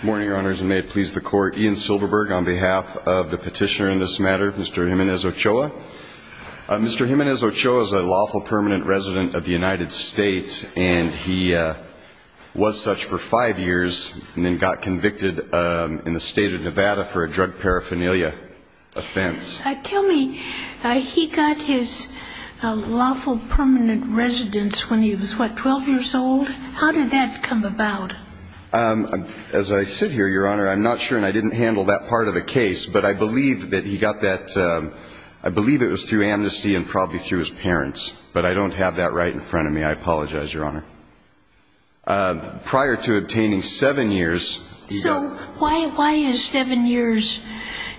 Good morning, Your Honors, and may it please the Court, Ian Silberberg on behalf of the petitioner in this matter, Mr. Jiminez-Ochoa. Mr. Jiminez-Ochoa is a lawful permanent resident of the United States and he was such for five years and then got convicted in the state of Nevada for a drug paraphernalia offense. Tell me, he got his lawful permanent residence when he was, what, 12 years old? How did that come about? As I sit here, Your Honor, I'm not sure and I didn't handle that part of the case, but I believe that he got that, I believe it was through amnesty and probably through his parents, but I don't have that right in front of me. I apologize, Your Honor. Prior to obtaining seven years, he got So why is seven years,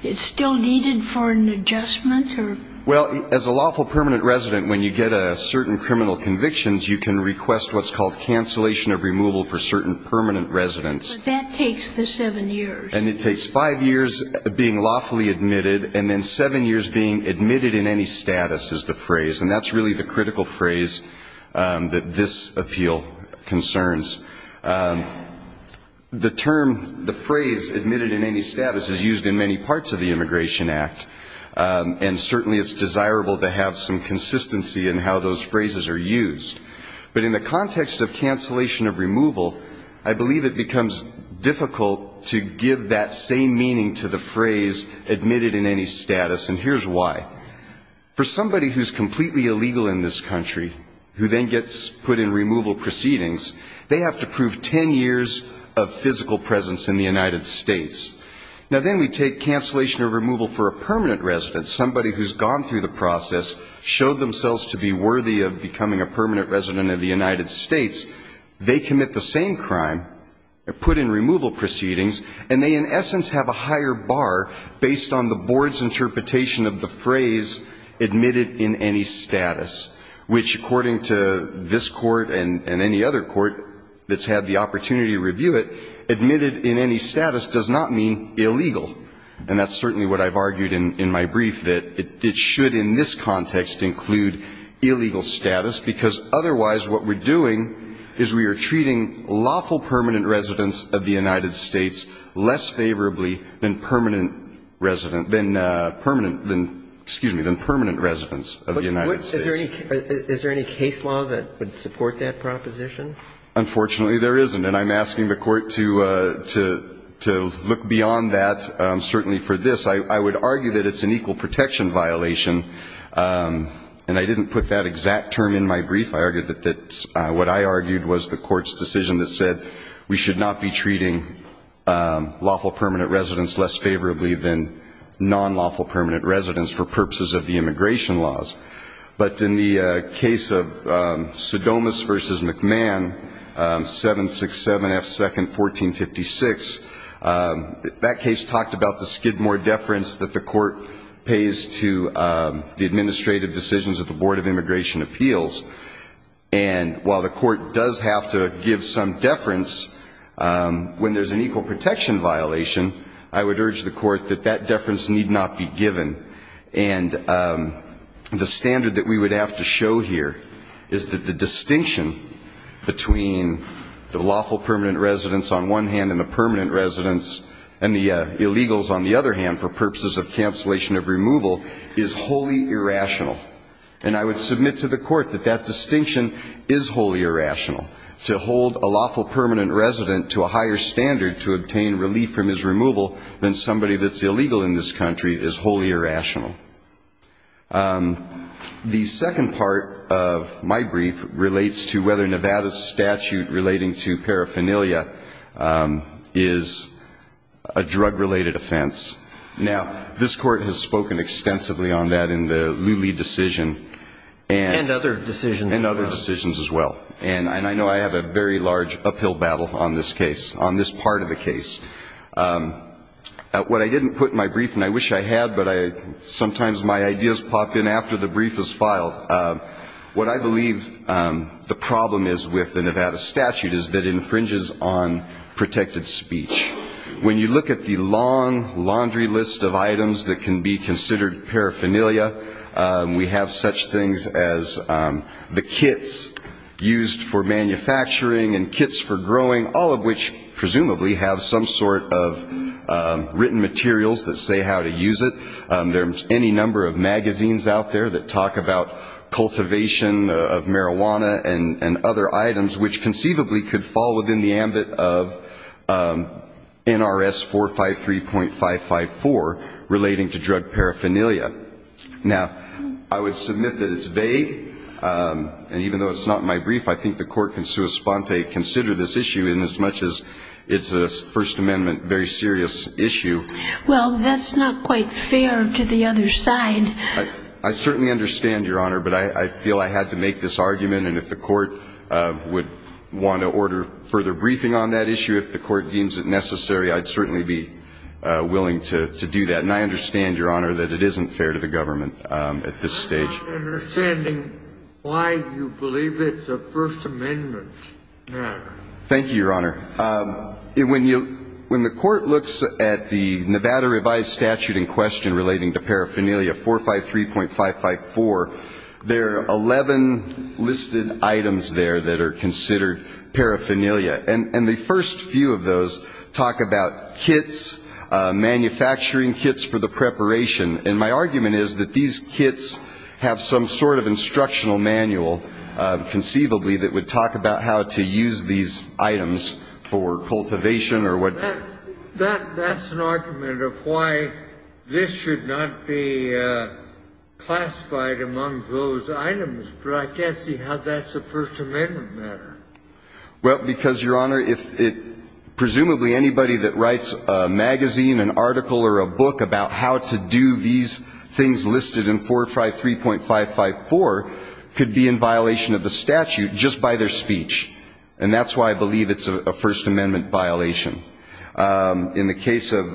it's still needed for an adjustment or? Well, as a lawful permanent resident, when you get a certain criminal convictions, you can request what's called cancellation of removal for certain permanent residents. But that takes the seven years. And it takes five years being lawfully admitted and then seven years being admitted in any status is the phrase, and that's really the critical phrase that this appeal concerns. The term, the phrase admitted in any status is used in many parts of the Immigration Act, and certainly it's desirable to have some consistency in how those phrases are used. But in the context of cancellation of removal, I believe it becomes difficult to give that same meaning to the phrase admitted in any status, and here's why. For somebody who's completely illegal in this country, who then gets put in removal proceedings, they have to prove ten years of physical presence in the United States. Now, then we take cancellation of removal for a permanent resident, somebody who's gone through the process, showed themselves to be worthy of becoming a permanent resident of the United States, they commit the same crime, put in removal proceedings, and they in essence have a higher bar based on the board's interpretation of the phrase admitted in any status, which according to this Court and any other court that's had the opportunity to review it, admitted in any status does not mean illegal. And that's certainly what I've argued in my brief, that it should in this context include illegal status, because otherwise what we're doing is we are treating lawful permanent residents of the United States less favorably than permanent resident than permanent than, excuse me, than permanent residents of the United States. Is there any case law that would support that proposition? Unfortunately, there isn't. And I'm asking the Court to look beyond that, certainly for this. I would argue that it's an equal protection violation. And I didn't put that exact term in my brief. I argued that what I argued was the Court's decision that said we should not be treating lawful permanent residents less favorably than non-lawful permanent residents for purposes of the immigration laws. But in the case of Sodomas v. McMahon, 767 F. 2nd, 1456, that case talked about the skidmore deference that the Court pays to the administrative decisions of the Board of Immigration Appeals. And while the Court does have to give some deference when there's an equal protection violation, I would urge the Court that that deference need not be given. And the standard that we would have to show here is that the distinction between the lawful permanent residents on one hand and the permanent residents and the illegals on the other hand for purposes of cancellation of removal is wholly irrational. And I would submit to the Court that that distinction is wholly irrational. To hold a lawful permanent resident to a higher standard to obtain relief from his removal than somebody that's a permanent resident is wholly irrational. The second part of my brief relates to whether Nevada's statute relating to paraphernalia is a drug-related offense. Now, this Court has spoken extensively on that in the Lulee decision and other decisions as well. And I know I have a very large uphill battle on this case, on this part of the case. What I didn't put in my brief, and I wish I had, but sometimes my ideas pop in after the brief is filed, what I believe the problem is with the Nevada statute is that it infringes on protected speech. When you look at the long laundry list of items that can be considered paraphernalia, we have such things as the and kits for growing, all of which presumably have some sort of written materials that say how to use it. There's any number of magazines out there that talk about cultivation of marijuana and other items which conceivably could fall within the ambit of NRS 453.554 relating to drug paraphernalia. Now, I would submit that it's vague. And even though it's not in my mind that the court can sui sponte consider this issue inasmuch as it's a First Amendment very serious issue. Well, that's not quite fair to the other side. I certainly understand, Your Honor, but I feel I had to make this argument. And if the court would want to order further briefing on that issue, if the court deems it necessary, I'd certainly be willing to do that. And I understand, Your Honor, that it isn't fair to the government at this stage. I'm not understanding why you believe it's a First Amendment matter. Thank you, Your Honor. When the court looks at the Nevada revised statute in question relating to paraphernalia, 453.554, there are 11 listed items there that are considered paraphernalia. And the first few of those talk about kits, manufacturing kits for the preparation. And my guess is that they have some sort of instructional manual, conceivably, that would talk about how to use these items for cultivation or what. That's an argument of why this should not be classified among those items. But I can't see how that's a First Amendment matter. Well, because, Your Honor, if it presumably anybody that writes a magazine, an article or a book about how to do these things listed in 453.554 could be in violation of the statute just by their speech. And that's why I believe it's a First Amendment violation. In the case of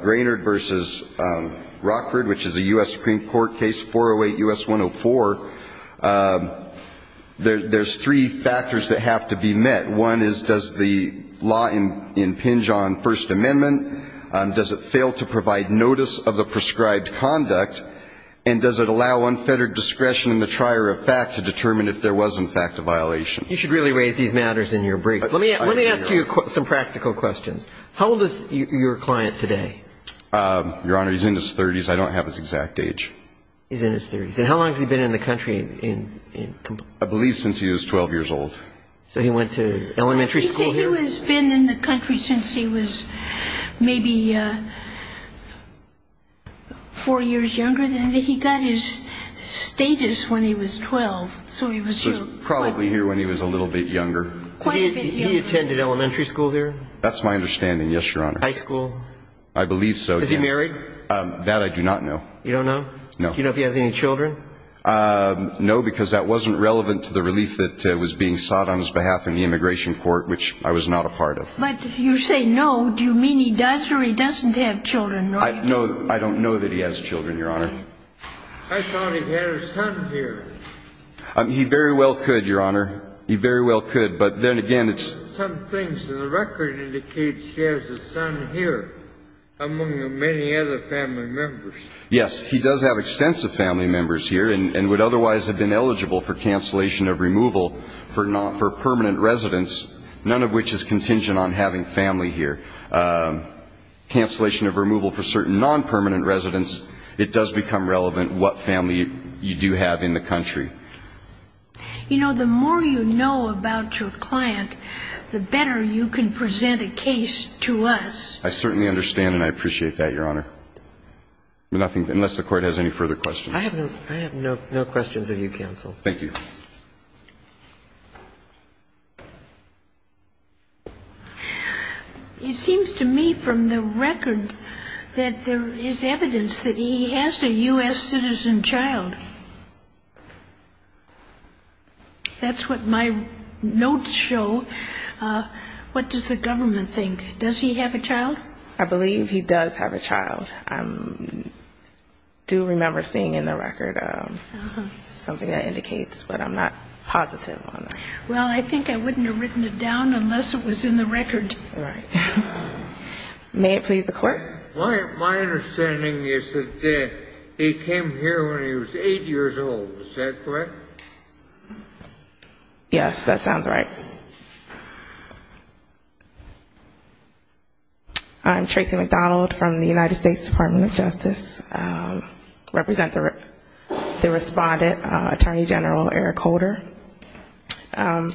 Grainard v. Rockford, which is a U.S. Supreme Court case, 408 U.S. 104, there's three factors that have to be met. One is, does the law impinge on First Amendment? Does it fail to provide notice of the prescribed conduct? And does it allow unfettered discretion in the trier of fact to determine if there was, in fact, a violation? You should really raise these matters in your brief. Let me ask you some practical questions. How old is your client today? Your Honor, he's in his 30s. I don't have his exact age. He's in his 30s. And how long has he been in the country? I believe since he was 12 years old. So he went to elementary school here? He has been in the country since he was maybe four years younger. He got his status when he was 12. So he was probably here when he was a little bit younger. He attended elementary school here? That's my understanding, yes, Your Honor. High school? I believe so. Is he married? That I do not know. You don't know? No. Do you know if he has any children? No, because that wasn't relevant to the relief that was being sought on his behalf in the immigration court, which I was not a part of. But you say no, do you mean he does or he doesn't have children? No, I don't know that he has children, Your Honor. I thought he had a son here. He very well could, Your Honor. He very well could. But then again, it's Some things in the record indicates he has a son here, among many other family members. Yes, he does have extensive family members here and would otherwise have been eligible for cancellation of removal for permanent residents, none of which is contingent on having family here. Cancellation of removal for certain non-permanent residents, it does become relevant what family you do have in the country. You know, the more you know about your client, the better you can present a case to us. I certainly understand and I appreciate that, Your Honor. Nothing, unless the Court has any further questions. I have no questions of you, Counsel. Thank you. It seems to me from the record that there is evidence that he has a U.S. citizen child. That's what my notes show. I believe he does have a child. I do remember seeing in the record something that indicates, but I'm not positive. Well, I think I wouldn't have written it down unless it was in the record. Right. May it please the Court? My understanding is that he came here when he was 8 years old. Is that correct? Yes, that sounds right. I'm Tracy McDonald from the United States Department of Justice. I represent the Respondent, Attorney General Eric Holder. The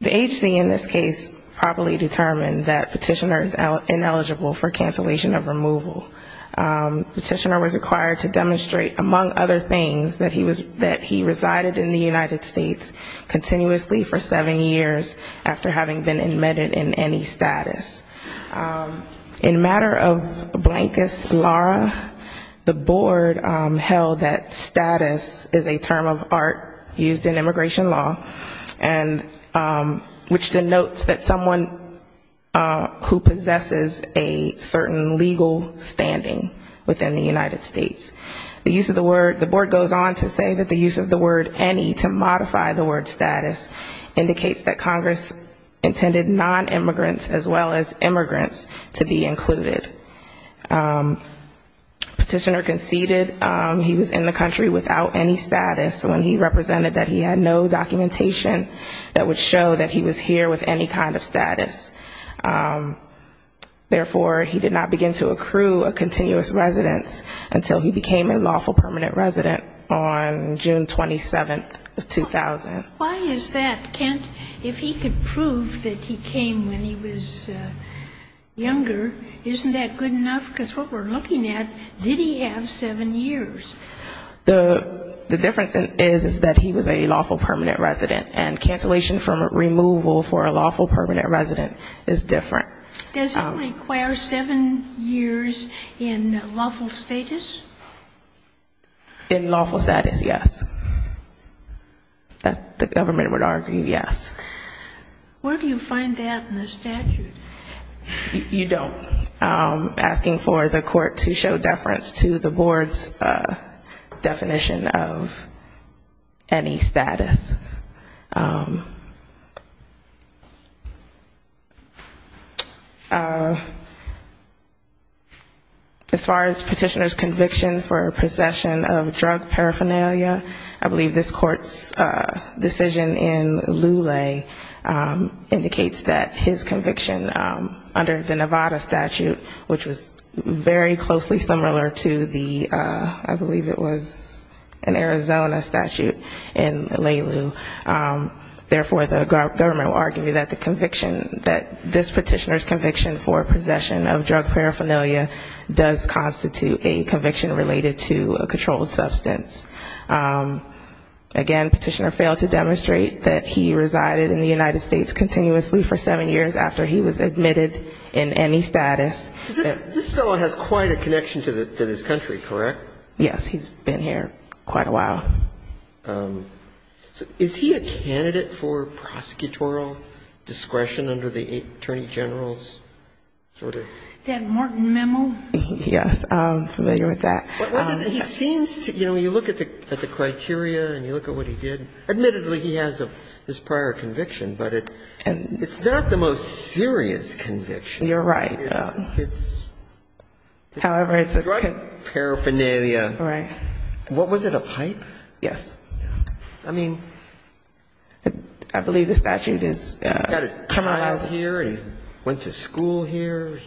HC in this case properly determined that Petitioner is ineligible for cancellation of removal. Petitioner was required to demonstrate, among other things, that he resided in the United States continuously for seven years after having been admitted in any status. In a matter of blankest law, the Board held that status is a term of art used in immigration law, which denotes that someone who possesses a certain legal standing within the United States. The use of the word, the Board goes on to say that the use of the word any to modify the word status indicates that Congress intended non-immigrants as well as immigrants to be included. Petitioner conceded he was in the country without any status when he represented that he had no documentation that would show that he was here with any kind of status. Therefore, he did not begin to accrue a continuous residence until he became a lawful permanent resident on June 27, 2000. Why is that? Kent, if he could prove that he came when he was younger, isn't that good enough? Because what we're looking at, did he have seven years? The difference is that he was a lawful permanent resident and cancellation for removal for a lawful permanent resident is different. Does it require seven years in lawful status? In lawful status, yes. That the government would argue, yes. Where do you find that in the statute? You don't. Asking for the court to show deference to the Board's definition of any status. As far as petitioner's conviction for possession of drug paraphernalia, I believe this court's decision in Lulay indicates that his conviction under the Nevada statute, which was very closely similar to the, I believe it was an Arizona statute in Leloo. Therefore, the government will argue that the conviction, that this petitioner's conviction for possession of drug paraphernalia does constitute a conviction related to a controlled substance. Again, petitioner failed to demonstrate that he resided in the United States continuously for seven years after he was admitted in any status. This fellow has quite a connection to this country, correct? Yes, he's been here quite a while. Is he a candidate for prosecutorial discretion under the Attorney General's sort of? That Morton memo? Yes, I'm familiar with that. He seems to, you know, when you look at the criteria and you look at what he did, admittedly he has this prior conviction, but it's not the most serious conviction. You're right. However, it's a drug paraphernalia. Right. What was it, a pipe? Yes. I mean. I believe the statute is. He's got a child here, he went to school here.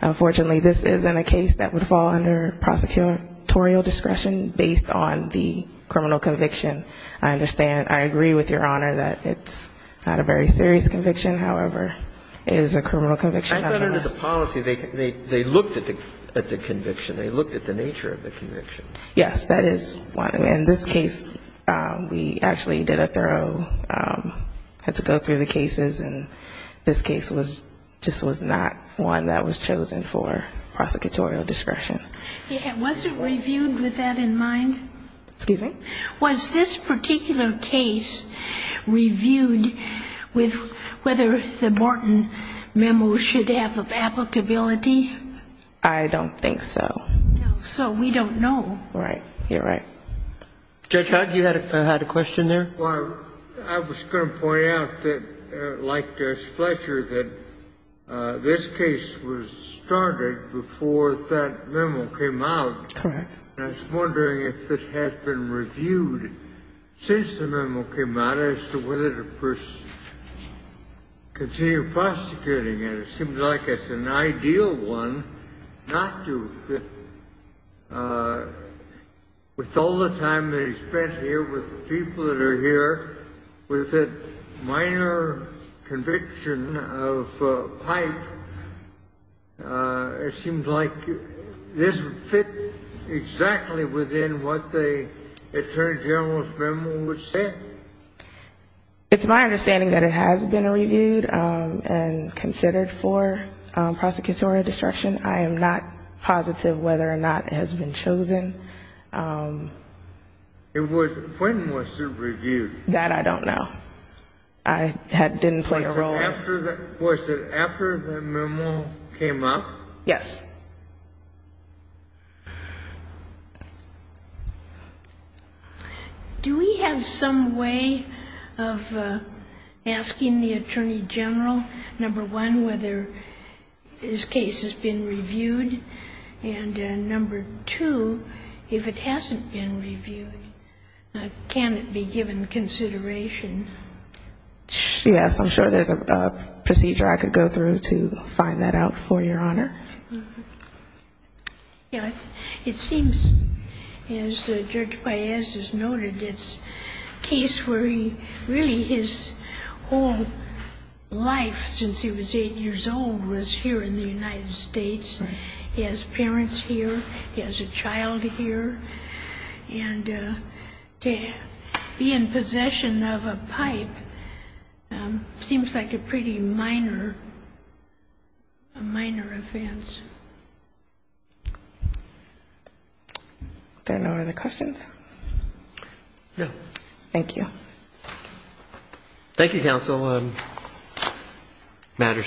Unfortunately, this isn't a case that would fall under prosecutorial discretion based on the criminal conviction. I understand. I agree with your honor that it's not a very serious conviction, however, is a criminal conviction. I thought under the policy, they looked at the conviction. They looked at the nature of the conviction. Yes, that is one. In this case, we actually did a thorough, had to go through the cases, and this case just was not one that was chosen for prosecutorial discretion. Was it reviewed with that in mind? Excuse me? Was this particular case reviewed with whether the Morton memo should have applicability? I don't think so. So we don't know. Right. You're right. Judge Hugg, you had a question there? I was going to point out that, like Judge Fletcher, that this case was started before that memo came out. Correct. I was wondering if it had been reviewed since the memo came out as to whether to continue prosecuting it. It seems like it's an ideal one not to, with all the time that he spent here, with the people that are here, with the minor conviction of Pike, it seems like this would fit exactly within what the attorney general's memo would say. It's my understanding that it has been reviewed and considered for prosecutorial discretion. I am not positive whether or not it has been chosen. When was it reviewed? That I don't know. It didn't play a role. Was it after the memo came up? Yes. Do we have some way of asking the attorney general, number one, whether this case has been reviewed? And number two, if it hasn't been reviewed, can it be given consideration? Yes. I'm sure there's a procedure I could go through to find that out for Your Honor. Yeah. It seems, as Judge Paez has noted, it's a case where he really, his whole life, since he was eight years old, was here in the United States and he has parents here, he has a child here, and to be in possession of a pipe seems like a pretty minor, a minor offense. There are no other questions? No. Thank you. Thank you, counsel. The matter is submitted.